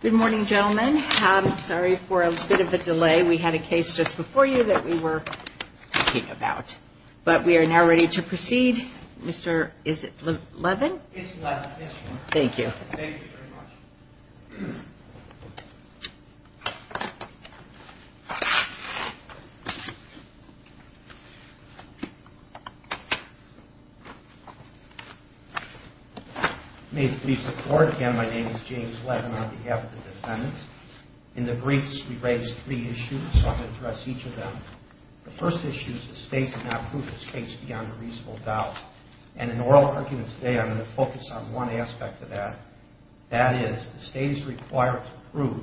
Good morning, gentlemen. Sorry for a bit of a delay. We had a case just before you that we were talking about. But we are now ready to proceed. Mr. Levin. Thank you. Thank you very much. May it please the court. Again, my name is James Levin on behalf of the defendants. In the briefs we raised three issues. So I am going to address each of them. The first issue is the state did not prove this case beyond a reasonable doubt. And in oral arguments today I am going to focus on one aspect of that. That is, the state is required to prove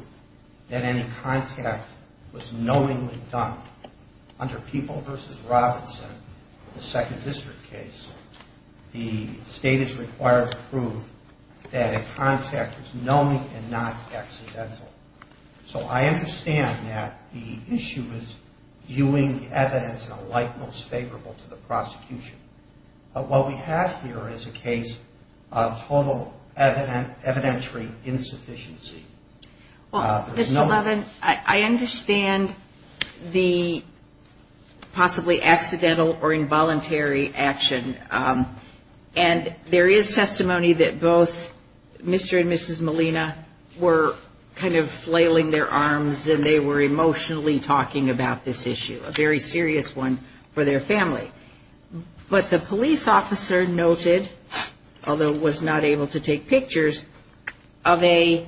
that any contact was knowingly done. Under People v. Robinson, the second district case, the state is required to prove that a contact was knowingly and not accidental. So I understand that the issue is viewing the evidence in a light most favorable to the prosecution. But what we have here is a case of total evidentiary insufficiency. Well, Mr. Levin, I understand the possibly accidental or involuntary action. And there is testimony that both Mr. and Mrs. Molina were kind of flailing their arms and they were emotionally talking about this issue. A very serious one for their family. But the police officer noted, although was not able to take pictures, of a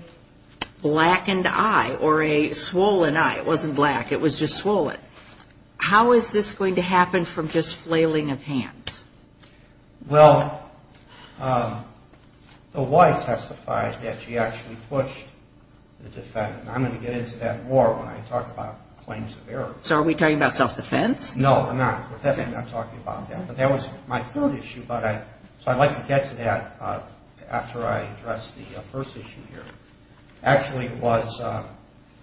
blackened eye or a swollen eye. It wasn't black. It was just swollen. How is this going to happen from just flailing of hands? Well, the wife testified that she actually pushed the defendant. And I'm going to get into that more when I talk about claims of error. So are we talking about self-defense? No, I'm not. We're definitely not talking about that. But that was my third issue. But I'd like to get to that after I address the first issue here. Actually, it was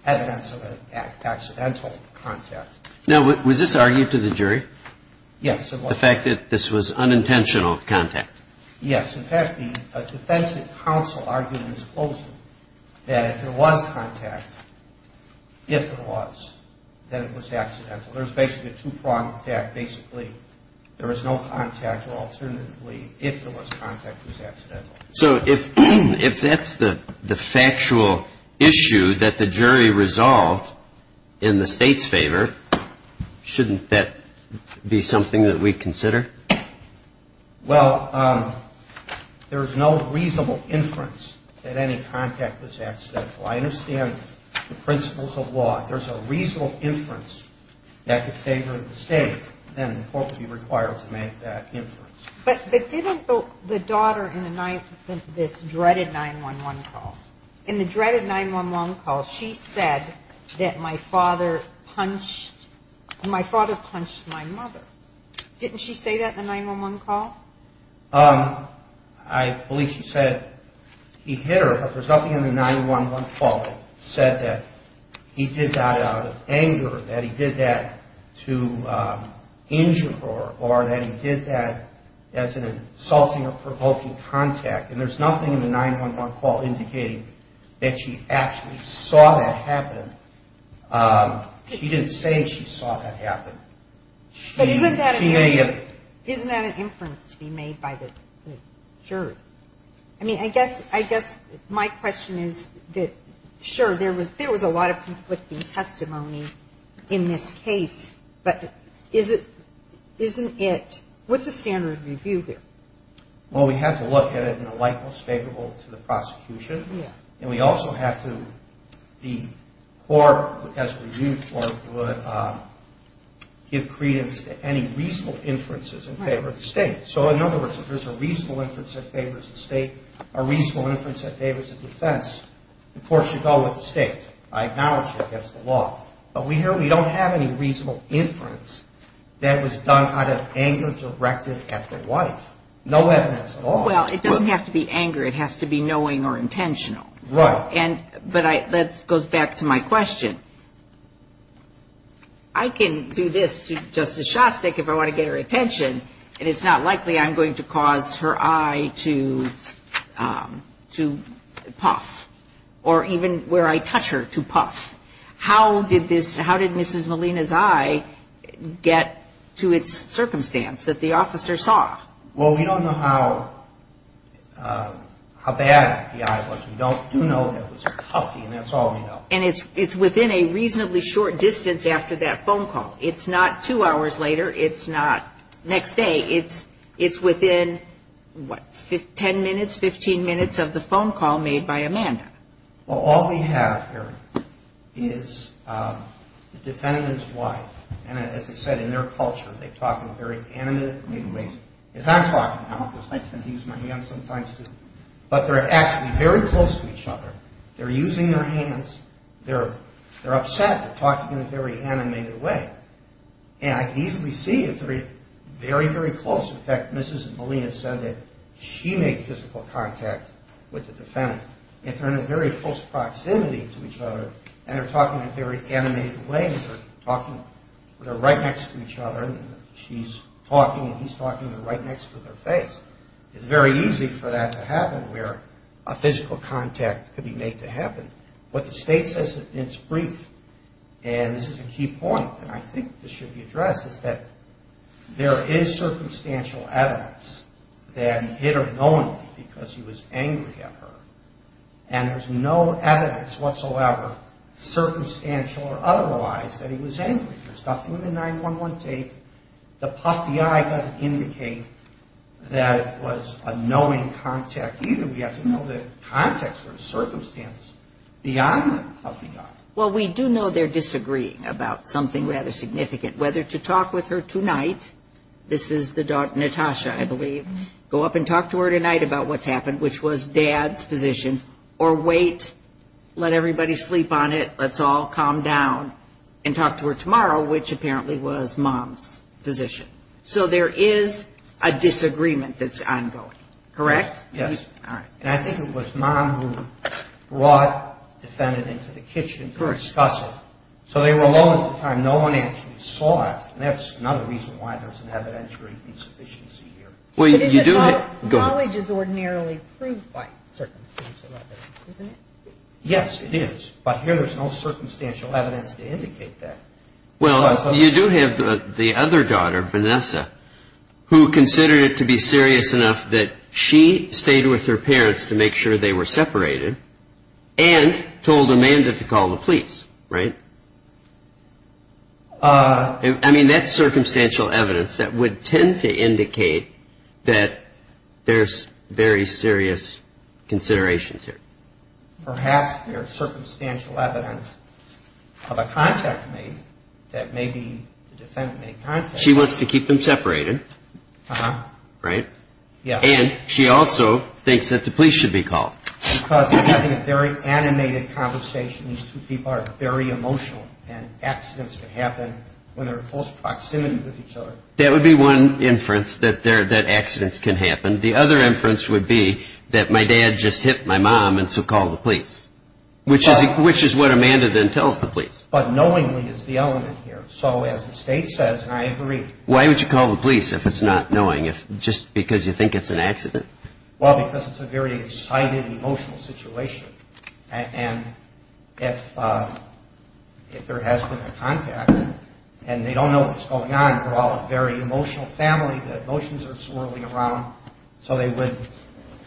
evidence of an accidental contact. Now, was this argued to the jury? Yes, it was. The fact that this was unintentional contact? Yes. In fact, the defense counsel argued in his closing that if there was contact, if there was, then it was accidental. There was basically a two-pronged attack. Basically, there was no contact. Or alternatively, if there was contact, it was accidental. So if that's the factual issue that the jury resolved in the State's favor, shouldn't that be something that we consider? Well, there's no reasonable inference that any contact was accidental. I understand the principles of law. If there's a reasonable inference that could favor the State, then the court would be required to make that inference. But didn't the daughter in this dreaded 9-1-1 call, in the dreaded 9-1-1 call, she said that my father punched my mother. Didn't she say that in the 9-1-1 call? I believe she said he hit her, but there's nothing in the 9-1-1 call that said that he did that out of anger, that he did that to injure her, or that he did that as an insulting or provoking contact. And there's nothing in the 9-1-1 call indicating that she actually saw that happen. She didn't say she saw that happen. But isn't that an inference to be made by the jury? I mean, I guess my question is that, sure, there was a lot of conflicting testimony in this case, but isn't it, what's the standard of review there? Well, we have to look at it in a light that's favorable to the prosecution, and we also have to, the court, as a review court, would give credence to any reasonable inferences in favor of the State. So, in other words, if there's a reasonable inference that favors the State, a reasonable inference that favors the defense, the court should go with the State. I acknowledge that against the law. But we don't have any reasonable inference that was done out of anger directed at the wife. No evidence at all. Well, it doesn't have to be anger. It has to be knowing or intentional. Right. But that goes back to my question. I can do this to Justice Shostak if I want to get her attention, and it's not likely I'm going to cause her eye to puff, or even where I touch her to puff. How did this, how did Mrs. Molina's eye get to its circumstance, that the officer saw? Well, we don't know how bad the eye was. We do know that it was puffy, and that's all we know. And it's within a reasonably short distance after that phone call. It's not two hours later. It's not next day. It's within, what, 10 minutes, 15 minutes of the phone call made by Amanda. Well, all we have here is the defendant and his wife, and as I said, in their culture, they talk in very animated ways. If I'm talking, I don't have to use my hands sometimes, but they're actually very close to each other. They're using their hands. They're upset. They're talking in a very animated way. And I can easily see if they're very, very close. In fact, Mrs. Molina said that she made physical contact with the defendant. If they're in a very close proximity to each other, and they're talking in a very animated way, and they're talking, they're right next to each other, and she's talking and he's talking, they're right next to their face, it's very easy for that to happen where a physical contact could be made to happen. What the state says in its brief, and this is a key point, and I think this should be addressed, is that there is circumstantial evidence that he hit her knowingly because he was angry at her, and there's no evidence whatsoever, circumstantial or otherwise, that he was angry. There's nothing in the 9-1-1 tape. The puffy eye doesn't indicate that it was a knowing contact either. I think we have to know the context or the circumstances beyond the puffy eye. And I think it was Mom who brought the defendant into the kitchen to discuss it. So they were alone at the time. No one actually saw it, and that's another reason why there's an evidentiary insufficiency here. But isn't knowledge is ordinarily proved by circumstantial evidence, isn't it? Yes, it is. But here there's no circumstantial evidence to indicate that. Well, you do have the other daughter, Vanessa, who considered it to be serious enough that she stayed with her parents to make sure they were separated and told Amanda to call the police, right? I mean, that's circumstantial evidence that would tend to indicate that there's very serious considerations here. Perhaps there's circumstantial evidence of a contact made that maybe the defendant made contact with. She wants to keep them separated, right? Yes. And she also thinks that the police should be called. Because they're having a very animated conversation. These two people are very emotional, and accidents can happen when they're in close proximity with each other. That would be one inference, that accidents can happen. The other inference would be that my dad just hit my mom, and so call the police, which is what Amanda then tells the police. But knowingly is the element here. So as the state says, and I agree. Why would you call the police if it's not knowing, just because you think it's an accident? Well, because it's a very excited, emotional situation. And if there has been a contact, and they don't know what's going on, they're all a very emotional family, the emotions are swirling around, so they would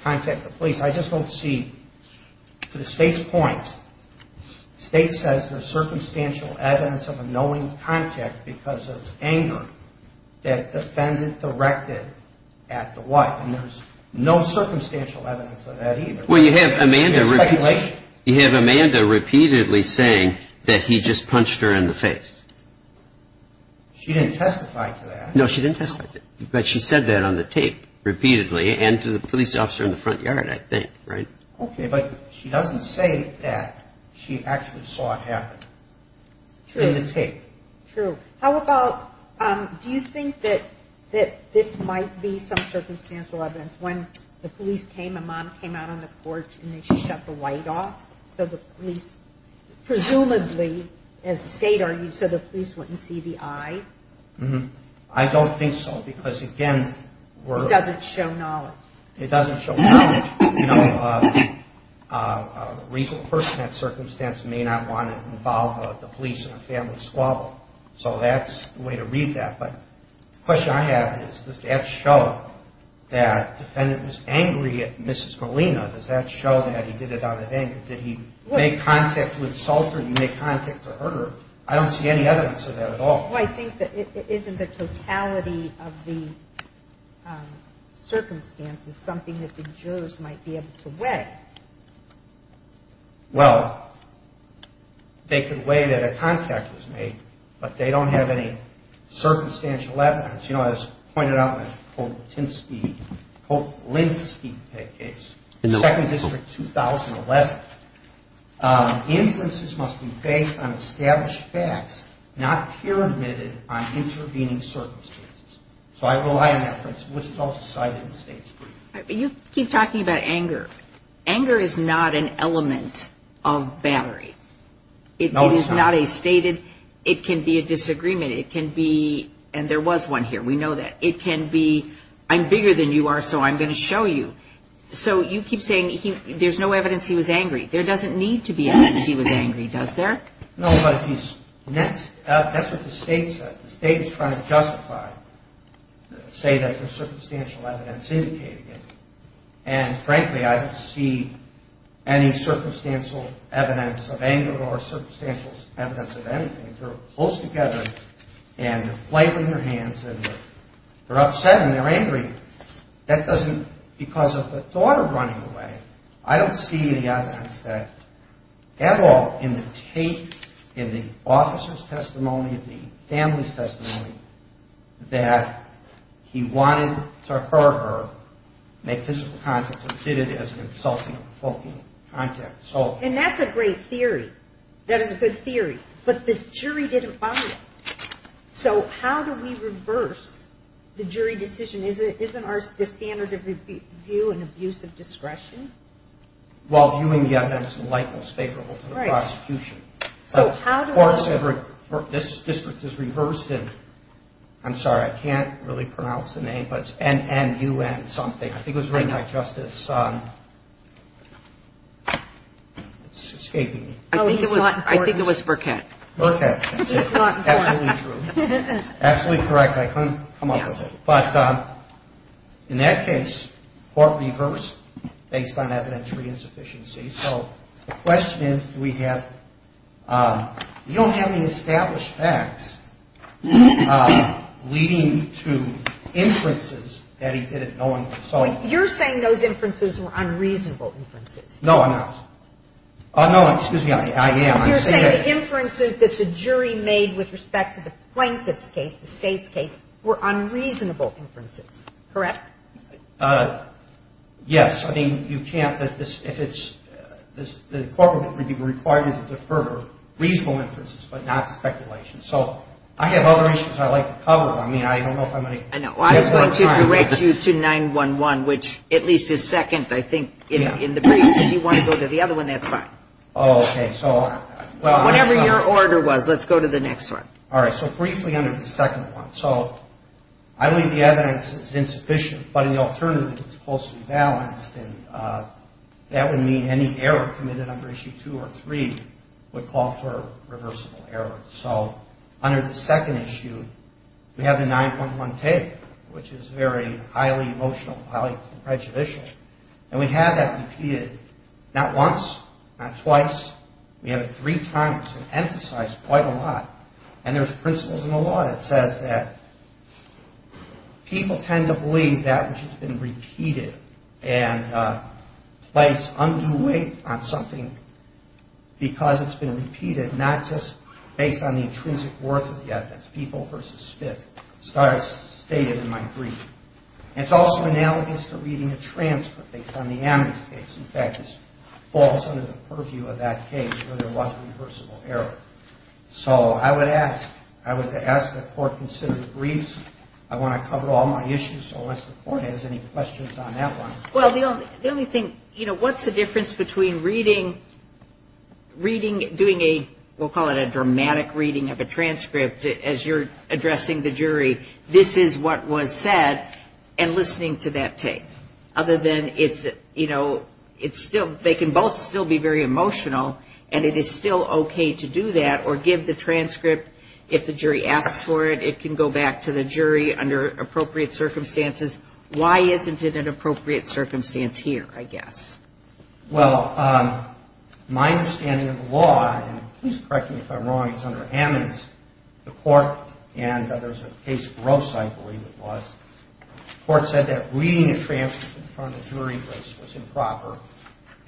contact the police. I just don't see, to the state's point, the state says there's circumstantial evidence of a knowing contact because of anger that the defendant directed at the wife. And there's no circumstantial evidence of that either. Well, you have Amanda repeatedly saying that he just punched her in the face. She didn't testify to that. No, she didn't testify to that. But she said that on the tape repeatedly, and to the police officer in the front yard, I think, right? Okay, but she doesn't say that she actually saw it happen. True. In the tape. True. How about, do you think that this might be some circumstantial evidence? When the police came, Amanda came out on the porch, and they shut the light off, so the police, presumably, as the state argued, so the police wouldn't see the eye? I don't think so, because again, we're... It doesn't show knowledge. You know, a reasonable person in that circumstance may not want to involve the police in a family squabble. So that's the way to read that. But the question I have is, does that show that the defendant was angry at Mrs. Molina? Does that show that he did it out of anger? Did he make contact with Sulphur? Did he make contact with her? I don't see any evidence of that at all. Well, I think that it isn't the totality of the circumstances something that the jurors might be able to weigh. Well, they could weigh that a contact was made, but they don't have any circumstantial evidence. You know, as pointed out in the Koplinsky case, 2nd District, 2011, inferences must be based on established facts, not peer-admitted on intervening circumstances. So I rely on that principle, which is also cited in the state's brief. But you keep talking about anger. Anger is not an element of battery. It is not a stated... It can be a disagreement. And there was one here. We know that. It can be, I'm bigger than you are, so I'm going to show you. So you keep saying there's no evidence he was angry. There doesn't need to be evidence he was angry, does there? No, but that's what the state said. The state is trying to justify, say that there's circumstantial evidence indicating it. And frankly, I don't see any circumstantial evidence of anger or circumstantial evidence of anything. If they're close together and they're flailing their hands and they're upset and they're angry, that doesn't... Because of the thought of running away, I don't see any evidence that at all in the tape, in the officer's testimony, in the family's testimony, that he wanted to hurt her, make physical contact, or did it as an insulting or provoking contact. And that's a great theory. That is a good theory. But the jury didn't buy it. So how do we reverse the jury decision? Isn't the standard of review an abuse of discretion? Well, viewing the evidence in light most favorable to the prosecution. Right. So how do we... This district is reversed in, I'm sorry, I can't really pronounce the name, but it's NNUN something. I think it was written by Justice... I know. It's escaping me. Oh, he's not important. I think it was Burkett. Burkett. He's not important. Absolutely true. Absolutely correct. I couldn't come up with it. But in that case, court reversed based on evidentiary insufficiency. So the question is, do we have... We don't have any established facts leading to inferences that he did it knowingly. You're saying those inferences were unreasonable inferences. No, I'm not. No, excuse me, I am. You're saying the inferences that the jury made with respect to the plaintiff's case, the state's case, were unreasonable inferences, correct? Yes. I mean, you can't... If it's... The court would be required to defer reasonable inferences but not speculation. So I have other issues I'd like to cover. I mean, I don't know if I'm going to... I know. I'm going to direct you to 911, which at least is second, I think, in the case. If you want to go to the other one, that's fine. Oh, okay, so... Whatever your order was, let's go to the next one. All right, so briefly under the second one. So I believe the evidence is insufficient, but in the alternative, it's closely balanced. And that would mean any error committed under Issue 2 or 3 would call for reversible error. So under the second issue, we have the 9.1 tape, which is very highly emotional, highly prejudicial. And we have that repeated, not once, not twice. We have it three times and emphasized quite a lot. And there's principles in the law that says that people tend to believe that which has been repeated and place undue weight on something because it's been repeated, not just based on the intrinsic worth of the evidence. People versus Smith. It's stated in my brief. And it's also analogous to reading a transcript based on the amnesty case. In fact, it falls under the purview of that case where there was reversible error. So I would ask that the Court consider the briefs. I want to cover all my issues, so unless the Court has any questions on that one... Well, the only thing, you know, what's the difference between reading, doing a, we'll call it a dramatic reading of a transcript as you're addressing the jury, this is what was said, and listening to that tape? Other than it's, you know, it's still, they can both still be very emotional, and it is still okay to do that or give the transcript if the jury asks for it. It can go back to the jury under appropriate circumstances. Why isn't it an appropriate circumstance here, I guess? Well, my understanding of the law, and please correct me if I'm wrong, is under amnesty. The Court, and there's a case of gross, I believe it was, the Court said that reading a transcript in front of the jury was improper,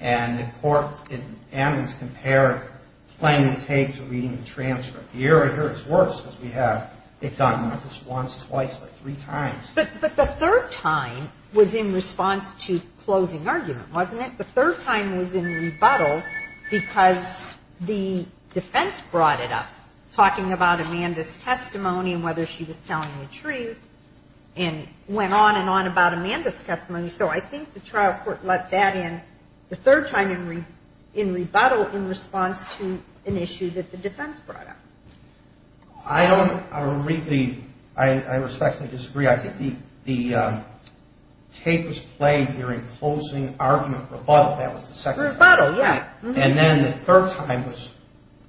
and the Court in amnesty compared playing the tape to reading the transcript. The error here is worse because we have it done not just once, twice, but three times. But the third time was in response to closing argument, wasn't it? I think the third time was in rebuttal because the defense brought it up, talking about Amanda's testimony and whether she was telling the truth, and went on and on about Amanda's testimony. So I think the trial court let that in the third time in rebuttal in response to an issue that the defense brought up. I don't really, I respectfully disagree. The tape was played during closing argument rebuttal. That was the second time. Rebuttal, yeah. And then the third time was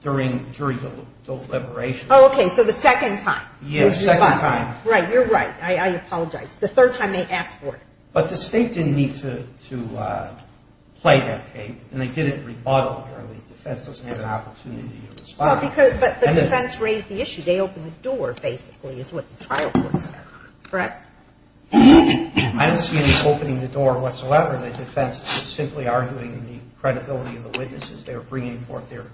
during jury deliberation. Oh, okay, so the second time was rebuttal. Yes, second time. Right, you're right. I apologize. The third time they asked for it. But the state didn't need to play that tape, and they didn't rebuttal apparently. The defense doesn't have an opportunity to respond. But the defense raised the issue. They opened the door, basically, is what the trial court said, correct? I didn't see any opening the door whatsoever. The defense was simply arguing the credibility of the witnesses. They were bringing forth their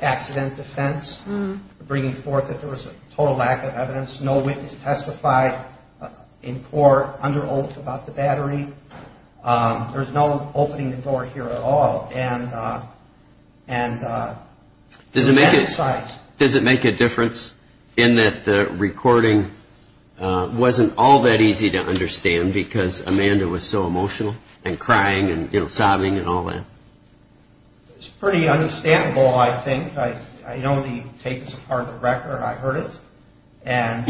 accident defense, bringing forth that there was a total lack of evidence, no witness testified in court under oath about the battery. There's no opening the door here at all. Does it make a difference in that the recording wasn't all that easy to understand because Amanda was so emotional and crying and sobbing and all that? It's pretty understandable, I think. I know the tape is a part of the record. I heard it. And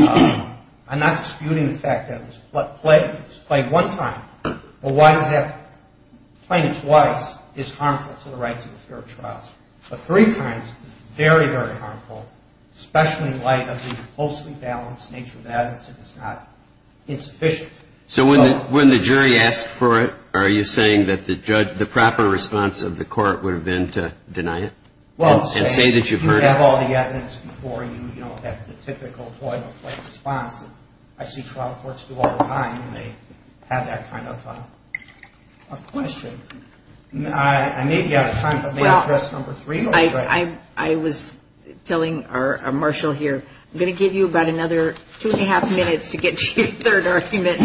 I'm not disputing the fact that it was played one time. Well, why does that playing it twice is harmful to the rights of the fair trials? But three times, very, very harmful, especially in light of the closely balanced nature of the evidence and it's not insufficient. So when the jury asked for it, are you saying that the judge, the proper response of the court would have been to deny it and say that you've heard it? Well, if you have all the evidence before you, you know, have the typical point-of-play response that I see trial courts do all the time when they have that kind of a question. I may be out of time, but may I address number three? I was telling Marshall here, I'm going to give you about another two and a half minutes to get to your third argument.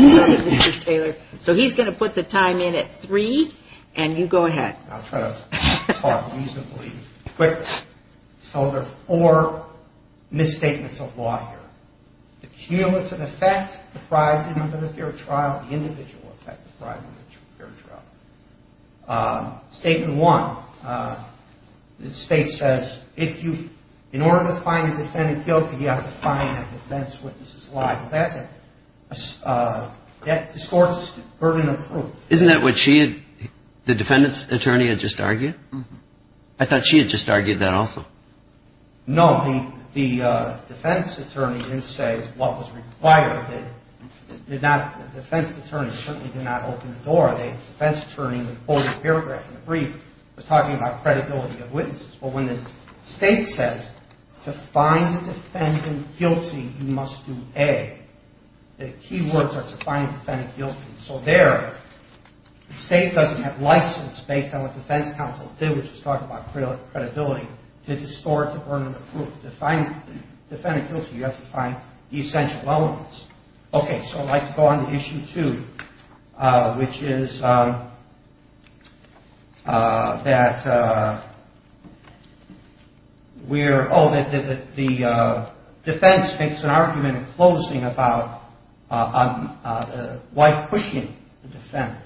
So he's going to put the time in at three, and you go ahead. I'll try to talk reasonably quickly. So there are four misstatements of law here. The cumulative effect deprived of the fair trial, the individual effect deprived of the fair trial. Statement one, the state says if you, in order to find a defendant guilty, you have to find a defense witness's lie. Well, that's a, that distorts the burden of proof. Isn't that what she had, the defendant's attorney had just argued? I thought she had just argued that also. No, the defense attorney didn't say what was required. The defense attorney certainly did not open the door. The defense attorney would quote a paragraph in the brief that was talking about credibility of witnesses. But when the state says to find the defendant guilty, you must do A. The key words are to find the defendant guilty. So there, the state doesn't have license based on what defense counsel did, which is talk about credibility, to distort the burden of proof. To find the defendant guilty, you have to find the essential elements. Okay, so I'd like to go on to issue two, which is that we're, oh, the defense makes an argument in closing about the wife pushing the defendant.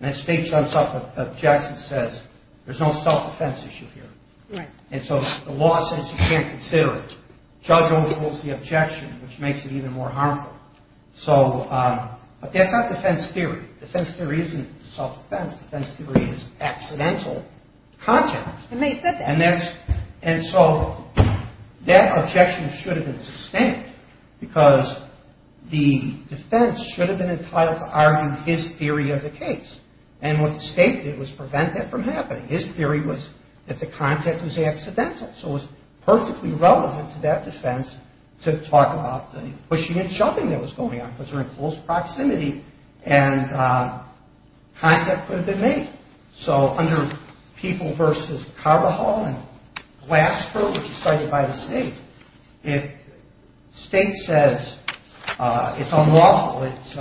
And the state jumps up and objects and says, there's no self-defense issue here. And so the law says you can't consider it. Judge overrules the objection, which makes it even more harmful. So, but that's not defense theory. Defense theory isn't self-defense. Defense theory is accidental content. And they said that. And so that objection should have been sustained because the defense should have been entitled to argue his theory of the case. And what the state did was prevent that from happening. His theory was that the content was accidental. So it was perfectly relevant to that defense to talk about the pushing and jumping that was going on because they're in close proximity and content could have been made. So under People v. Carvajal and Glasper, which is cited by the state, if state says it's unlawful, it's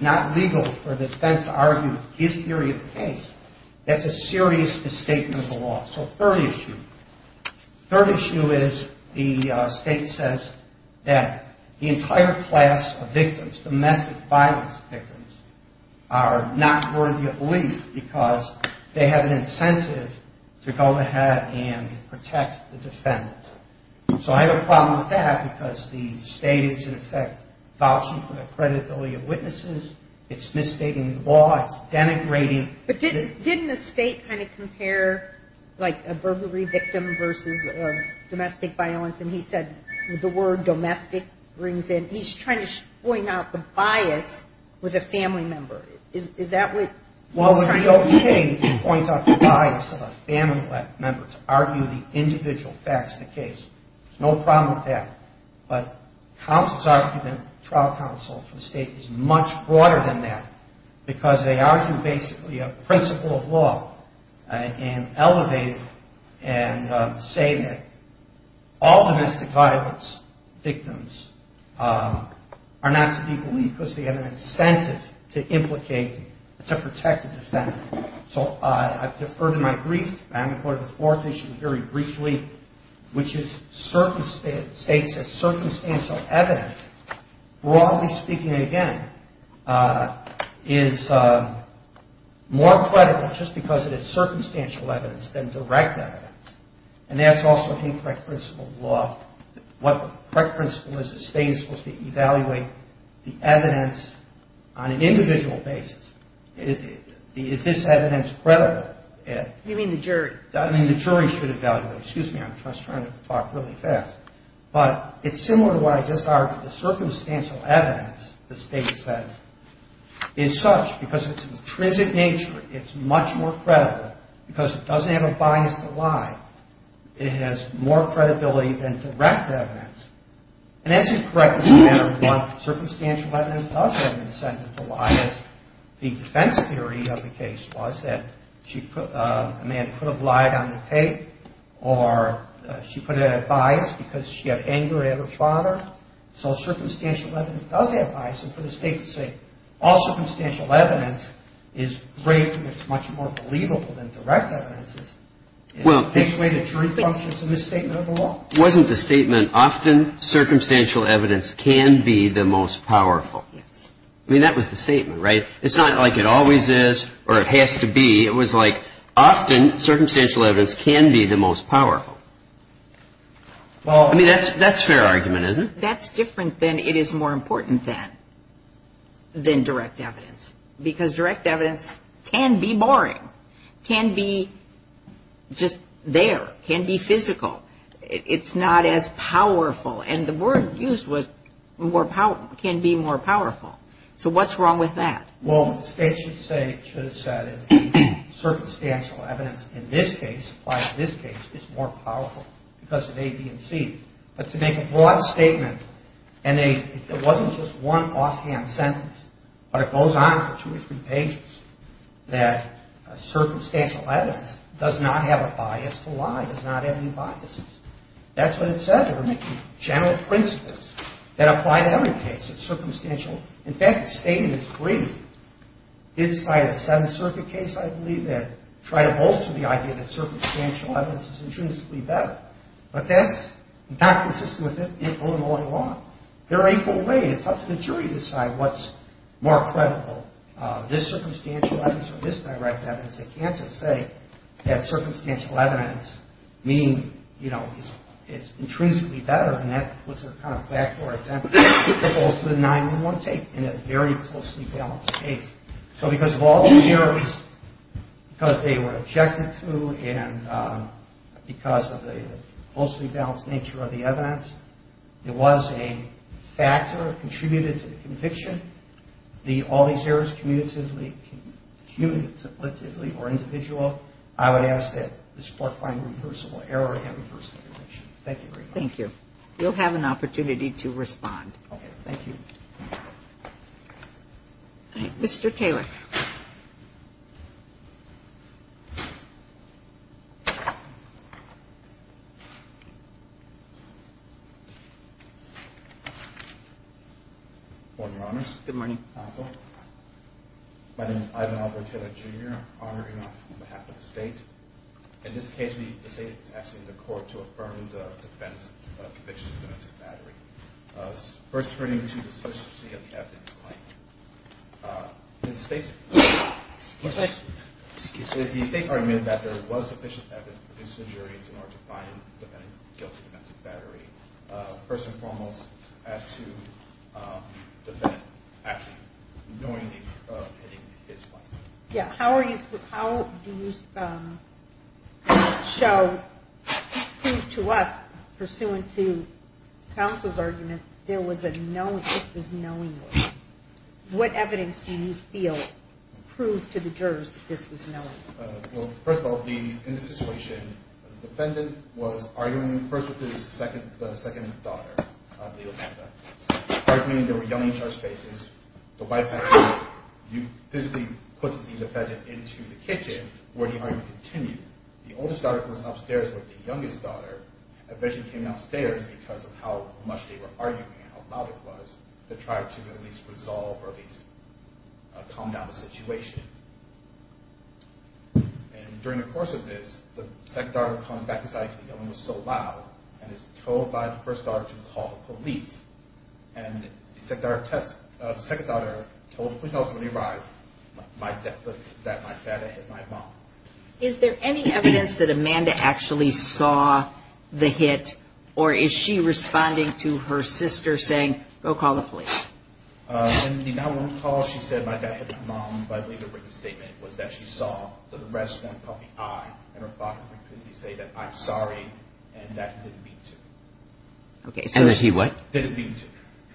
not legal for the defense to argue his theory of the case, that's a serious misstatement of the law. So third issue. Third issue is the state says that the entire class of victims, domestic violence victims, are not worthy of release because they have an incentive to go ahead and protect the defendant. So I have a problem with that because the state is in effect vouching for the credibility of witnesses. It's misstating the law. It's denigrating. But didn't the state kind of compare like a burglary victim versus domestic violence? And he said the word domestic brings in. He's trying to point out the bias with a family member. Is that what he's trying to do? Well, it would be okay to point out the bias of a family member to argue the individual facts of the case. There's no problem with that. But counsel's argument, trial counsel, for the state is much broader than that because they argue basically a principle of law and elevate it and say that all domestic violence victims are not to be believed because they have an incentive to implicate, to protect the defendant. So I defer to my brief. I'm going to go to the fourth issue very briefly, which is states that circumstantial evidence, broadly speaking, again, is more credible just because it is circumstantial evidence than direct evidence. And that's also incorrect principle of law. What the correct principle is the state is supposed to evaluate the evidence on an individual basis. Is this evidence credible? You mean the jury? I mean the jury should evaluate. Excuse me. I'm trying to talk really fast. But it's similar to what I just argued. The circumstantial evidence, the state says, is such because it's intrinsic nature. It's much more credible because it doesn't have a bias to lie. It has more credibility than direct evidence. And that's incorrect as a matter of one. Circumstantial evidence does have an incentive to lie. The defense theory of the case was that Amanda could have lied on the tape or she could have had bias because she had anger at her father. So circumstantial evidence does have bias. And for the state to say all circumstantial evidence is great because it's much more believable than direct evidence in which way the jury functions in this statement of the law. Wasn't the statement often circumstantial evidence can be the most powerful? Yes. I mean that was the statement, right? It's not like it always is or it has to be. It was like often circumstantial evidence can be the most powerful. I mean that's fair argument, isn't it? That's different than it is more important than direct evidence because direct evidence can be boring, can be just there, can be physical. It's not as powerful. And the word used was can be more powerful. So what's wrong with that? Well, what the state should have said is circumstantial evidence in this case applies to this case. It's more powerful because of A, B, and C. But to make a broad statement and it wasn't just one offhand sentence, but it goes on for two or three pages that circumstantial evidence does not have a bias to lie, does not have any biases. That's what it says. There are many general principles that apply to every case. It's circumstantial. In fact, the statement is brief. Inside a Seventh Circuit case, I believe, they try to bolster the idea that circumstantial evidence is intrinsically better. But that's not consistent with Illinois law. There are equal ways. It's up to the jury to decide what's more credible, this circumstantial evidence or this direct evidence. They can't just say that circumstantial evidence means it's intrinsically better, and that was their kind of backdoor example. It goes to the 9-1-1 tape in a very closely balanced case. So because of all the jurors, because they were objected to, and because of the closely balanced nature of the evidence, it was a factor that contributed to the conviction, all these errors cumulatively or individually, I would ask that this Court find a reversible error and a reversible conviction. Thank you very much. Thank you. You'll have an opportunity to respond. Okay. Thank you. All right. Mr. Taylor. Good morning, Your Honors. Good morning. My name is Ivan Albert Taylor, Jr., honoring on behalf of the State. In this case, the State is asking the Court to affirm the defense of conviction of domestic battery. First, turning to the sufficiency of the evidence claim, the State's argument that there was sufficient evidence to produce injuries in order to find the defendant guilty of domestic battery. First and foremost, as to the defendant actually knowingly pitting his claim. Yeah. How do you show, prove to us, pursuant to counsel's argument, there was a knowingly, this was knowingly. What evidence do you feel proved to the jurors that this was knowingly? Well, first of all, in this situation, the defendant was arguing first with his second daughter, Leah Amanda, arguing, they were yelling each other's faces. The wife had to physically put the defendant into the kitchen where the argument continued. The oldest daughter was upstairs with the youngest daughter, eventually came downstairs because of how much they were arguing and how loud it was to try to at least resolve or at least calm down the situation. And during the course of this, the second daughter comes back inside, the yelling was so loud, and is told by the first daughter to call the police. And the second daughter told the police officer when he arrived, my dad hit my mom. Is there any evidence that Amanda actually saw the hit, or is she responding to her sister saying, go call the police? In the 911 call, she said, my dad hit my mom, but I believe the written statement was that she saw the red-scorned puffy eye, and her father said, I'm sorry, and that he didn't mean to. And that he what? Didn't mean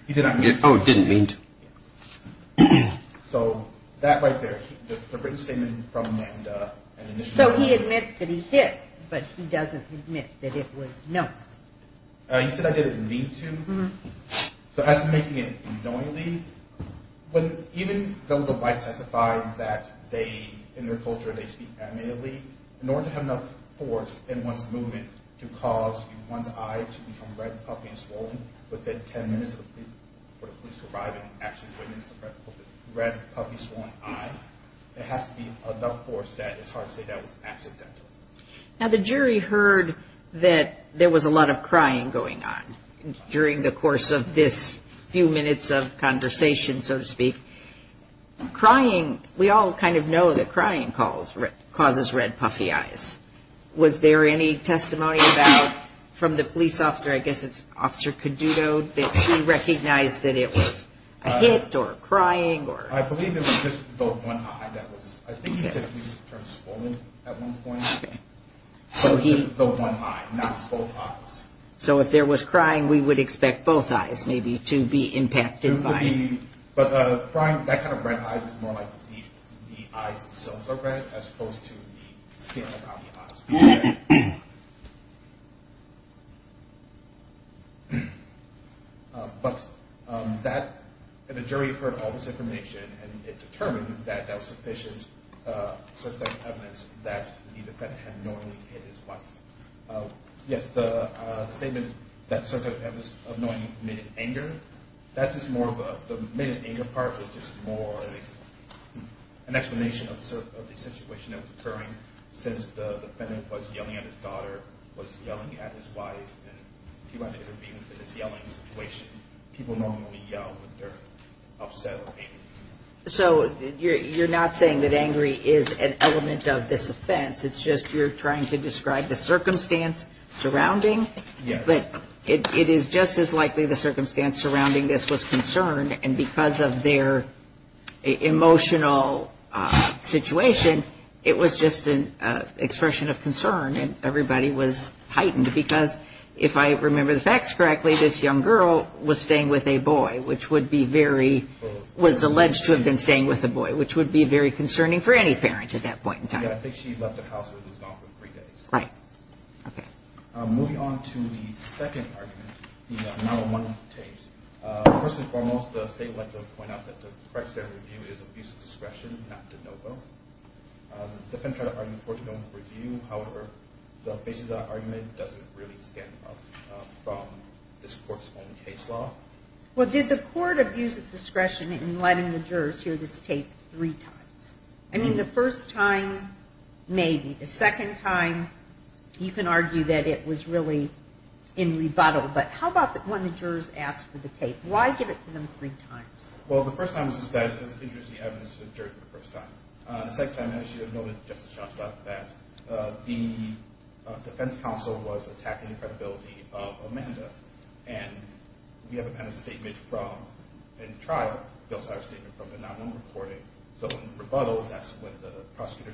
to. Oh, didn't mean to. So that right there, the written statement from Amanda. So he admits that he hit, but he doesn't admit that it was known. He said, I didn't mean to. So as to making it unknowingly, even though the white testify that they, in their culture, they speak amicably, in order to have enough force in one's movement to cause one's eye to become red, puffy, and swollen within ten minutes before the police arrive and actually witness the red, puffy, swollen eye, there has to be enough force that it's hard to say that was accidental. Now the jury heard that there was a lot of crying going on during the course of this few minutes of conversation, so to speak. Crying, we all kind of know that crying causes red, puffy eyes. Was there any testimony about, from the police officer, I guess it's Officer Caduto, that she recognized that it was a hit or crying or? I believe it was just the one eye that was, I think he said he was swollen at one point. So it was just the one eye, not both eyes. So if there was crying, we would expect both eyes maybe to be impacted by it. But crying, that kind of red eye is more like the eyes themselves are red as opposed to the skin around the eyes. But that, and the jury heard all this information and it determined that that was sufficient evidence that the defendant had normally hit his wife. Yes, the statement that Circa had this annoying minute anger, that's just more of a, the minute anger part is just more an explanation of the situation that was occurring since the defendant was yelling at his daughter, was yelling at his wife, and he wanted to intervene in this yelling situation. People normally yell when they're upset or angry. So you're not saying that angry is an element of this offense, it's just you're trying to describe the circumstance surrounding. But it is just as likely the circumstance surrounding this was concern and because of their emotional situation, it was just an expression of concern and everybody was heightened because if I remember the facts correctly, this young girl was staying with a boy, which would be very, was alleged to have been staying with a boy, I think she left the house and was gone for three days. Right. Okay. Moving on to the second argument, the another one of the tapes. First and foremost, the state would like to point out that the correct standard of review is abuse of discretion, not de novo. The defense tried to argue the court's own review, however, the basis of that argument doesn't really stand up from this court's own case law. Well, did the court abuse its discretion in letting the jurors hear this tape three times? I mean, the first time, maybe. The second time, you can argue that it was really in rebuttal, but how about when the jurors asked for the tape? Why give it to them three times? Well, the first time was just that it was interesting evidence to the jury for the first time. The second time, as you know, Justice Shostakovich, that the defense counsel was attacking the credibility of Amanda and we haven't had a statement from, in trial, we also have a statement from the non-room recording. So in rebuttal, that's when the prosecutor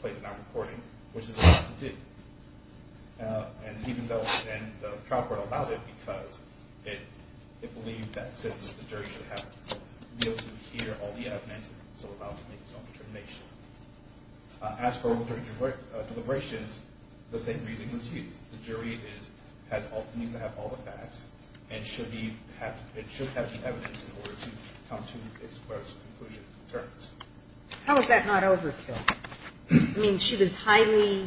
plays the non-recording, which is allowed to do. And even though, and the trial court allowed it because it believed that since the jury should have, be able to hear all the evidence, it's allowed to make its own determination. As for the jury deliberations, the same reasoning was used. The jury needs to have all the facts and it should have the evidence in order to come to its conclusion. How is that not overkill? I mean, she was highly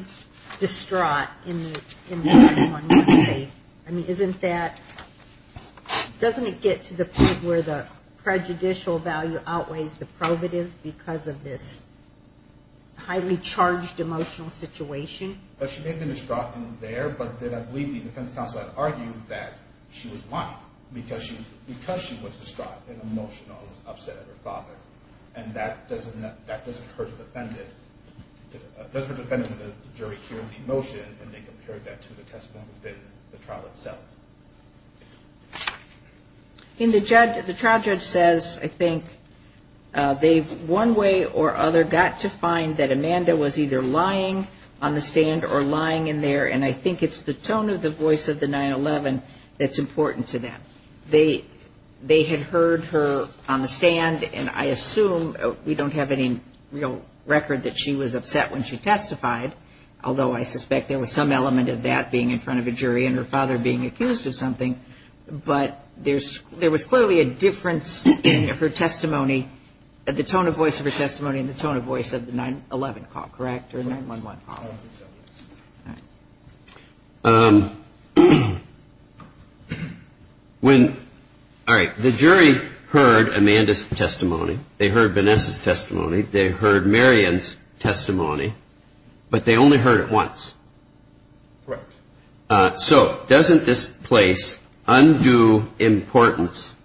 distraught in the first one. I mean, isn't that, doesn't it get to the point where the prejudicial value outweighs the probative because of this highly charged emotional situation? She may have been distraught in there, but then I believe the defense counsel had argued that she was lying because she was distraught and emotional and was upset at her father. And that doesn't hurt the defendant. It doesn't hurt the defendant when the jury hears the emotion and they compare that to the testimony within the trial itself. In the judge, the trial judge says, I think, they've one way or other got to find that Amanda was either lying on the stand or lying in there and I think it's the tone of the voice of the 9-11 that's important to them. They had heard her on the stand and I assume we don't have any real record that she was upset when she testified, although I suspect there was some element of that being in front of a jury and her father being accused of something, but there was clearly a difference in her testimony, the tone of voice of her testimony and the tone of voice of the 9-11 call, correct? The 9-11 call. All right. The jury heard Amanda's testimony. They heard Vanessa's testimony. They heard Marion's testimony, but they only heard it once. Correct. So doesn't this place undo importance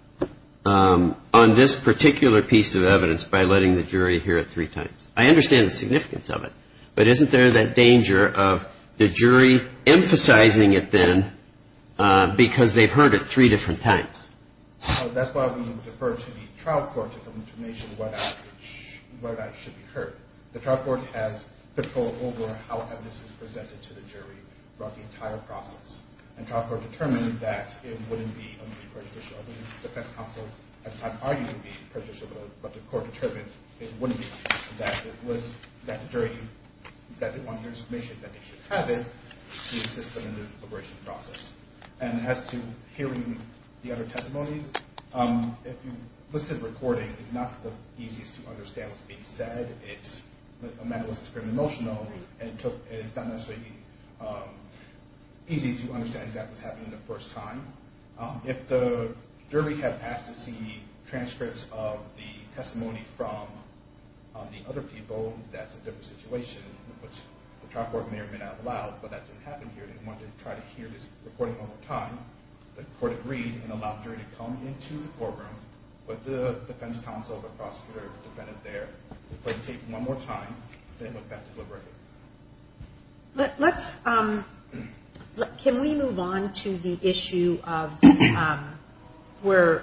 on this particular piece of evidence by letting the jury hear it three times? I understand the significance of it, but isn't there that danger of the jury emphasizing it then because they've heard it three different times? That's why we defer to the trial court to come to a nation where that should be heard. The trial court has control over how evidence is presented to the jury throughout the entire process and trial court determined that it wouldn't be only prejudicial. The defense counsel at the time argued it would be prejudicial, but the court determined it wouldn't be. It was that jury, that they wanted your submission, that they should have it, to assist them in the deliberation process. And as to hearing the other testimonies, if you listen to the recording, it's not the easiest to understand what's being said. Amanda was extremely emotional, and it's not necessarily easy to understand exactly what's happening the first time. If the jury had asked to see transcripts of the testimony from the other people, that's a different situation, which the trial court may or may not have allowed, but that didn't happen here. They wanted to try to hear this recording one more time. The court agreed and allowed jury to come into the courtroom, but the defense counsel, the prosecutor, defended there. They played the tape one more time, then went back to deliberating. Let's, can we move on to the issue of where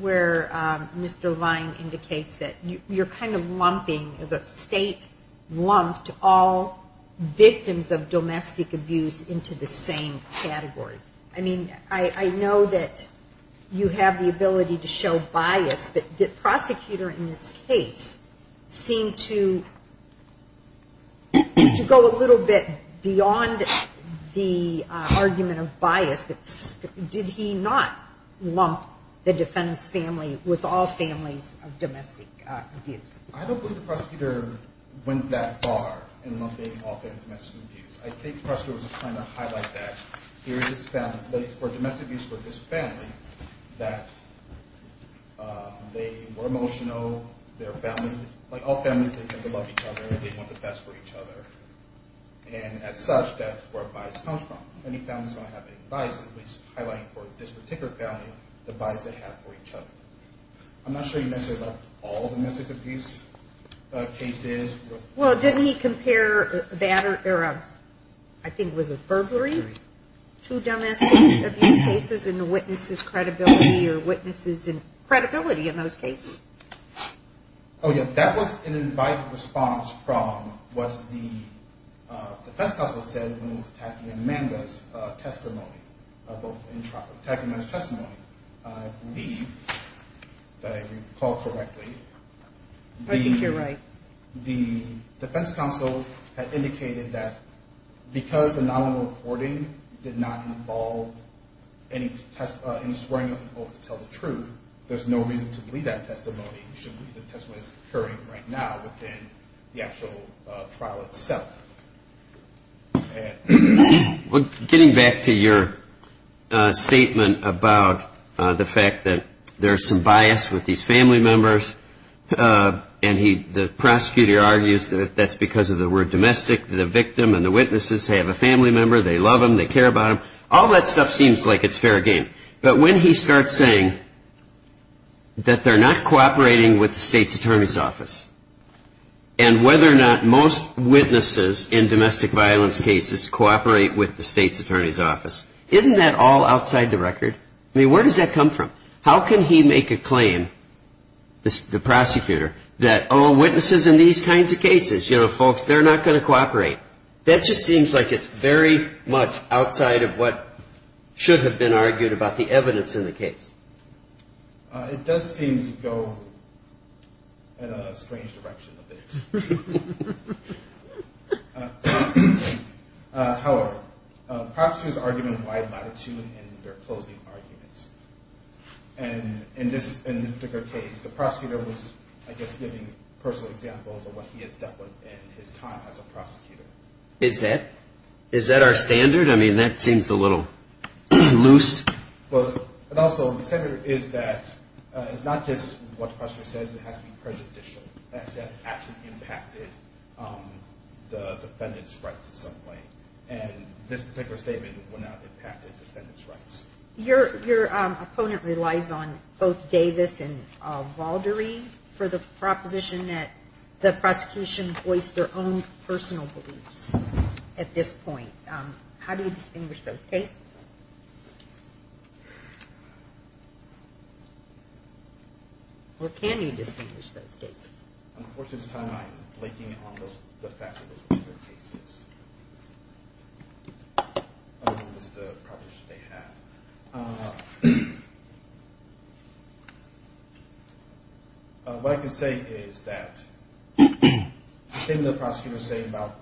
Mr. Vine indicates that you're kind of lumping, the state lumped all victims of domestic abuse into the same category. I mean, I know that you have the ability to show bias, but the prosecutor in this case seemed to go a little bit beyond the argument of bias, but did he not lump the defendant's family with all families of domestic abuse? I don't believe the prosecutor went that far in lumping all families of domestic abuse. I think the prosecutor was just trying to highlight that. For domestic abuse for this family, that they were emotional, their family, like all families, they tend to love each other, they want the best for each other, and as such, that's where bias comes from. Any family's not going to have any bias, at least highlighting for this particular family the bias they have for each other. I'm not sure you mentioned about all domestic abuse cases. Well, didn't he compare, I think it was a burglary, two domestic abuse cases and the witnesses' credibility, or witnesses' credibility in those cases? Oh, yeah, that was an invite response from what the defense counsel said when he was attacking Amanda's testimony. Both attacking Amanda's testimony, I believe, if I recall correctly. I think you're right. The defense counsel had indicated that because the nominal reporting did not involve any test, any swearing of an oath to tell the truth, there's no reason to believe that testimony. It should be the testimony that's occurring right now within the actual trial itself. Getting back to your statement about the fact that there's some bias with these family members and the prosecutor argues that that's because of the word domestic, the victim and the witnesses have a family member, they love them, they care about them. All that stuff seems like it's fair game. But when he starts saying that they're not cooperating with the state's attorney's office and whether or not most witnesses in domestic violence cases cooperate with the state's attorney's office, isn't that all outside the record? I mean, where does that come from? How can he make a claim, the prosecutor, that, oh, witnesses in these kinds of cases, you know, folks, they're not going to cooperate. That just seems like it's very much outside of what should have been argued about the evidence in the case. It does seem to go in a strange direction a bit. However, prosecutors argue in a wide latitude in their closing arguments. And in this particular case, the prosecutor was, I guess, giving personal examples of what he has dealt with in his time as a prosecutor. Is that our standard? I mean, that seems a little loose. Well, and also the standard is that it's not just what the prosecutor says. It has to be prejudicial. That actually impacted the defendant's rights in some way. And this particular statement would not have impacted the defendant's rights. Your opponent relies on both Davis and Valderee for the proposition that the prosecution voiced their own personal beliefs at this point. How do you distinguish those cases? Or can you distinguish those cases? Unfortunately, this time I'm linking it on the fact that those were other cases. Other than just the proposition they had. What I can say is that the statement the prosecutor was saying about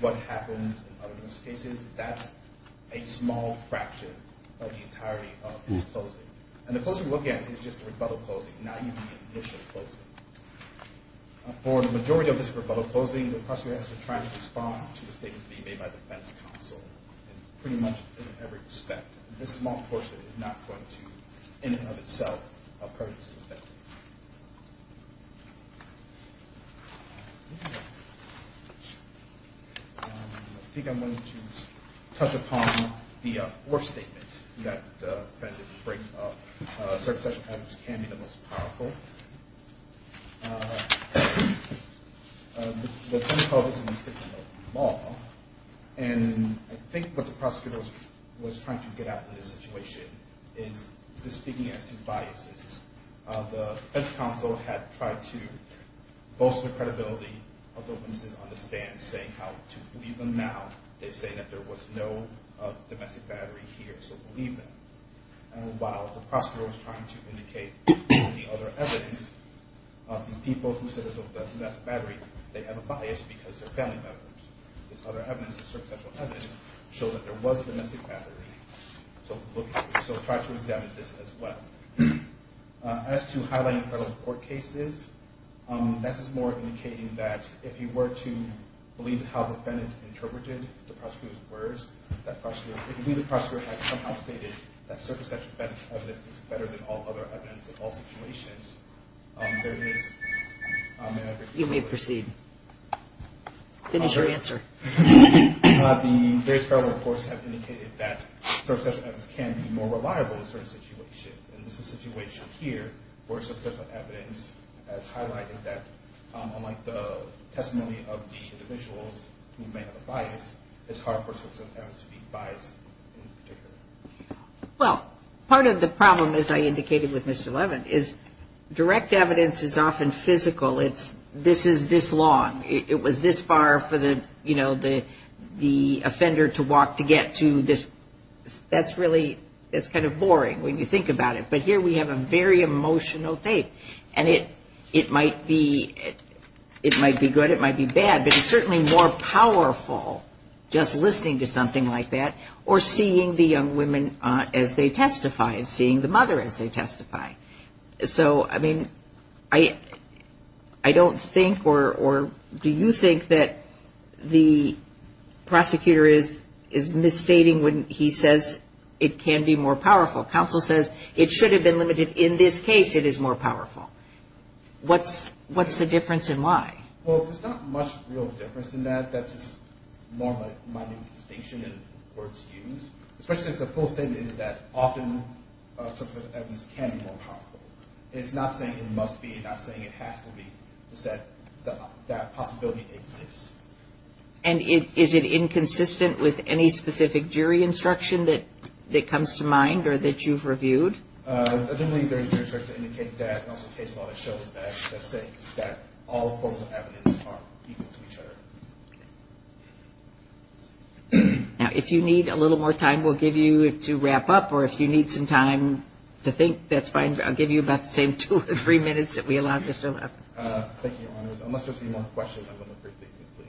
what happens in other cases, that's a small fraction of the entirety of his closing. And the closing we're looking at is just a rebuttal closing, not even the initial closing. For the majority of this rebuttal closing, the prosecutor has to try to respond to the statements being made by the defense counsel, pretty much in every respect. This small portion is not going to, in and of itself, hurt the defendant. I think I'm going to touch upon the fourth statement that the defendant brings up. Circumstantial patterns can be the most powerful. The defense counsel is in the statement of law. And I think what the prosecutor was trying to get at in this situation is just speaking as to biases. The defense counsel had tried to bolster the credibility of the witnesses on the stand, saying how to believe them now. They're saying that there was no domestic battery here, so believe them. And while the prosecutor was trying to indicate the other evidence, these people who said there was no domestic battery, they have a bias because they're family members. This other evidence, this circumstantial evidence, showed that there was a domestic battery. So try to examine this as well. As to highlighting federal court cases, this is more indicating that if you were to believe how the defendant interpreted the prosecutor's words, if the prosecutor had somehow stated that circumstantial evidence is better than all other evidence in all situations, there is an aggregate of evidence. You may proceed. Finish your answer. The various federal reports have indicated that circumstantial evidence can be more reliable in certain situations. And this is a situation here where substantial evidence has highlighted that, unlike the testimony of the individuals who may have a bias, it's hard for substantial evidence to be biased in particular. Well, part of the problem, as I indicated with Mr. Levin, is direct evidence is often physical. It's this is this long. It was this far for the, you know, the offender to walk to get to this. That's really, that's kind of boring when you think about it. But here we have a very emotional tape. And it might be good, it might be bad, but it's certainly more powerful just listening to something like that or seeing the young women as they testify and seeing the mother as they testify. So, I mean, I don't think or do you think that the prosecutor is misstating when he says it can be more powerful? Counsel says it should have been limited. In this case, it is more powerful. What's the difference and why? Well, there's not much real difference in that. That's just more of a minding distinction and words used. Especially since the full statement is that often evidence can be more powerful. It's not saying it must be. It's not saying it has to be. It's that that possibility exists. And is it inconsistent with any specific jury instruction that comes to mind or that you've reviewed? I don't think there's a jury charge to indicate that. Also, case law shows that all forms of evidence are equal to each other. Now, if you need a little more time, we'll give you to wrap up. Or if you need some time to think, that's fine. I'll give you about the same two or three minutes that we allowed Mr. Leff. Thank you, Your Honors. Unless there's any more questions, I'm going to briefly conclude.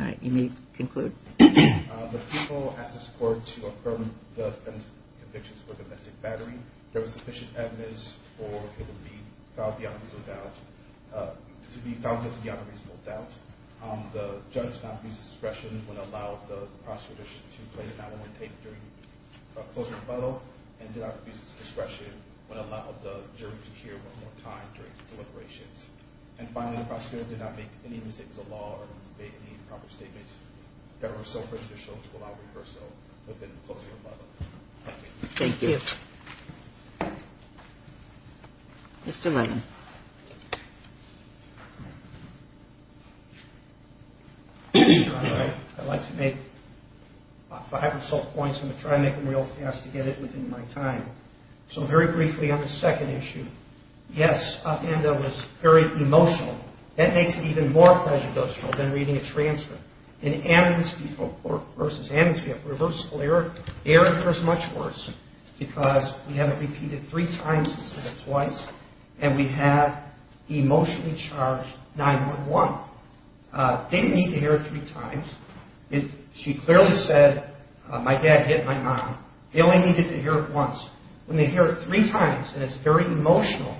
All right. You may conclude. The people asked this court to affirm the defendants' convictions for domestic battery. There was sufficient evidence for it to be found beyond a reasonable doubt. The judge did not abuse discretion when it allowed the prosecutor to play the 9-1-1 tape during a closing rebuttal and did not abuse discretion when it allowed the jury to hear one more time during deliberations. And finally, the prosecutor did not make any mistakes of law or make any improper statements that were so prejudicial to allow rehearsal within the closing rebuttal. Thank you. Thank you. Thank you. Mr. Muzzin. I'd like to make five or so points. I'm going to try to make them real fast to get it within my time. So very briefly on the second issue, yes, Amanda was very emotional. That makes it even more prejudicial than reading a transcript. In Amnesty v. Amnesty, a reversal error occurs much worse because we have it repeated three times instead of twice and we have emotionally charged 9-1-1. They need to hear it three times. She clearly said, my dad hit my mom. They only needed to hear it once. When they hear it three times and it's very emotional,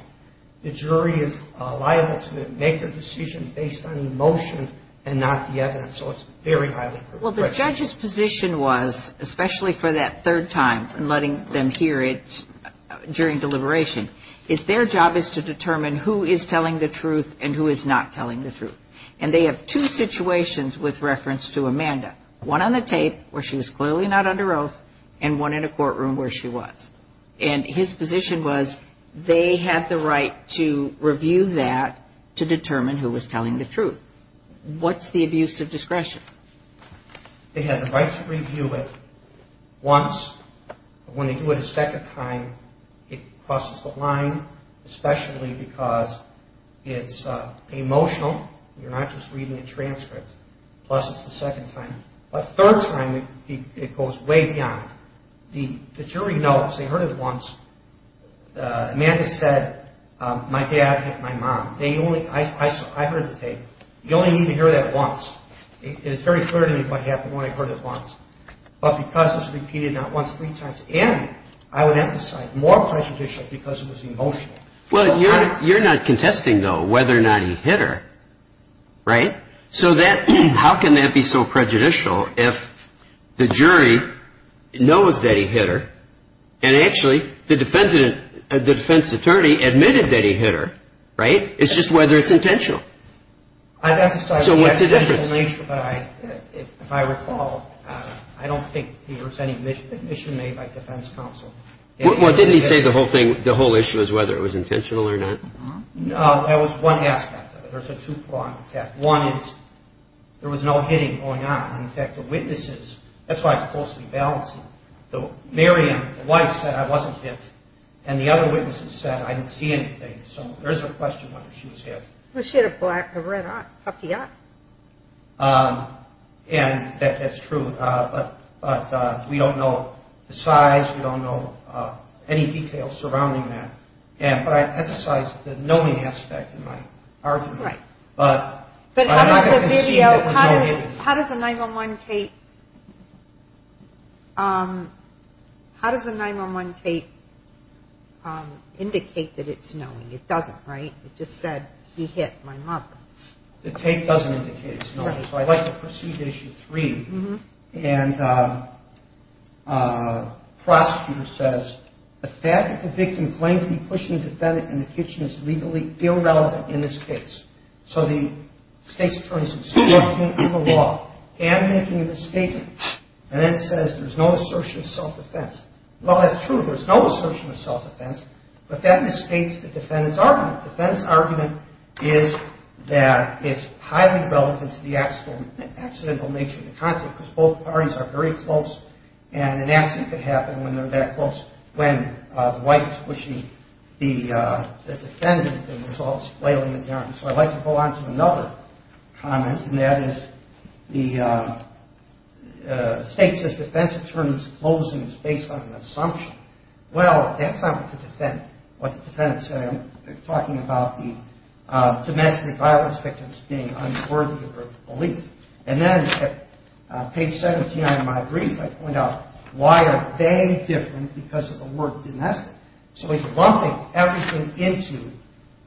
the jury is liable to make their decision based on emotion and not the evidence. So it's very highly prejudicial. Well, the judge's position was, especially for that third time and letting them hear it during deliberation, is their job is to determine who is telling the truth and who is not telling the truth. And they have two situations with reference to Amanda, one on the tape where she was clearly not under oath and one in a courtroom where she was. And his position was they had the right to review that to determine who was telling the truth. What's the abuse of discretion? They had the right to review it once. When they do it a second time, it crosses the line, especially because it's emotional. You're not just reading a transcript. Plus, it's the second time. A third time, it goes way beyond. The jury knows. They heard it once. Amanda said, my dad hit my mom. I heard the tape. You only need to hear that once. And it's very clear to me what happened when I heard it once. But because it's repeated not once, three times, and I would emphasize, more prejudicial because it was emotional. Well, you're not contesting, though, whether or not he hit her, right? So how can that be so prejudicial if the jury knows that he hit her and actually the defense attorney admitted that he hit her, right? It's just whether it's intentional. So what's the difference? If I recall, I don't think there was any admission made by defense counsel. Well, didn't he say the whole issue is whether it was intentional or not? No, that was one aspect of it. There's a two-pronged attack. One is there was no hitting going on. In fact, the witnesses, that's why it's closely balanced. The married wife said I wasn't hit, and the other witnesses said I didn't see anything. So there is a question whether she was hit. Well, she had a red puppy eye. And that's true. But we don't know the size. We don't know any details surrounding that. But I emphasize the knowing aspect in my argument. But I'm not going to concede there was no hitting. How does the 9-1-1 tape indicate that it's knowing? It doesn't, right? It just said he hit my mother. The tape doesn't indicate it's knowing. So I'd like to proceed to Issue 3. And the prosecutor says, the fact that the victim claimed to be pushing the defendant in the kitchen is legally irrelevant in this case. So the state's attorneys are distorting the law and making a misstatement. And then it says there's no assertion of self-defense. Well, that's true. There's no assertion of self-defense. But that misstates the defendant's argument. The defendant's argument is that it's highly relevant to the accidental nature of the conflict because both parties are very close. And an accident can happen when they're that close, when the wife is pushing the defendant and the result is flailing in the air. So I'd like to go on to another comment, and that is the state says the defense attorney's closing is based on an assumption. Well, that's not what the defendant said. I'm talking about the domestic violence victims being unworthy of belief. And then at page 17 of my brief, I point out why are they different because of the word domestic. So he's lumping everything into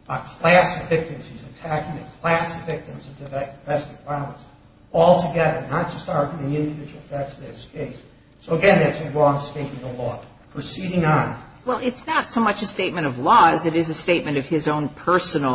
a class of victims. He's attacking a class of victims of domestic violence altogether, not just arguing individual facts in this case. So, again, that's a wrong statement of law. Proceeding on. Well, it's not so much a statement of law as it is a statement of his own personal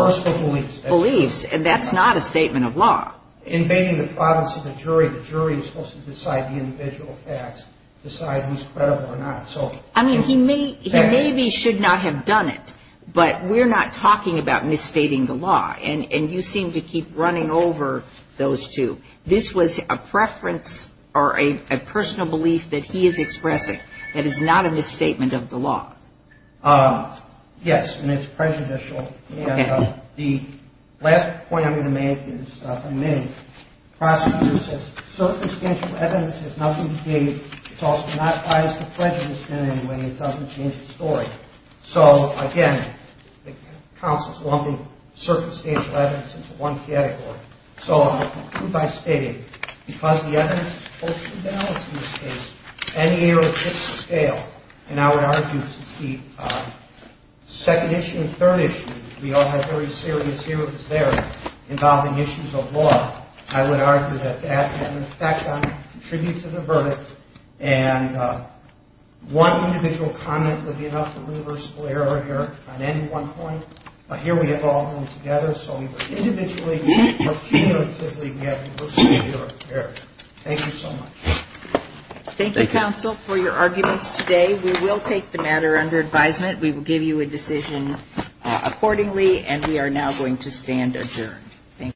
beliefs, and that's not a statement of law. Invading the province of the jury, the jury is supposed to decide the individual facts, decide who's credible or not. I mean, he maybe should not have done it, but we're not talking about misstating the law, and you seem to keep running over those two. This was a preference or a personal belief that he is expressing that is not a misstatement of the law. Yes, and it's prejudicial. And the last point I'm going to make is, from me, the prosecutor says circumstantial evidence has nothing to do with it. It's also not biased or prejudiced in any way. It doesn't change the story. So, again, the counsel is lumping circumstantial evidence into one category. So I'll conclude by stating, because the evidence is closely balanced in this case, any error hits the scale. And I would argue that since the second issue and third issue, we all have very serious errors there involving issues of law, I would argue that that can, in fact, contribute to the verdict. And one individual comment would be enough to reverse the error here on any one point, but here we have all of them together. So we would individually or cumulatively be able to reverse the error here. Thank you so much. Thank you, counsel, for your arguments today. We will take the matter under advisement. We will give you a decision accordingly, and we are now going to stand adjourned.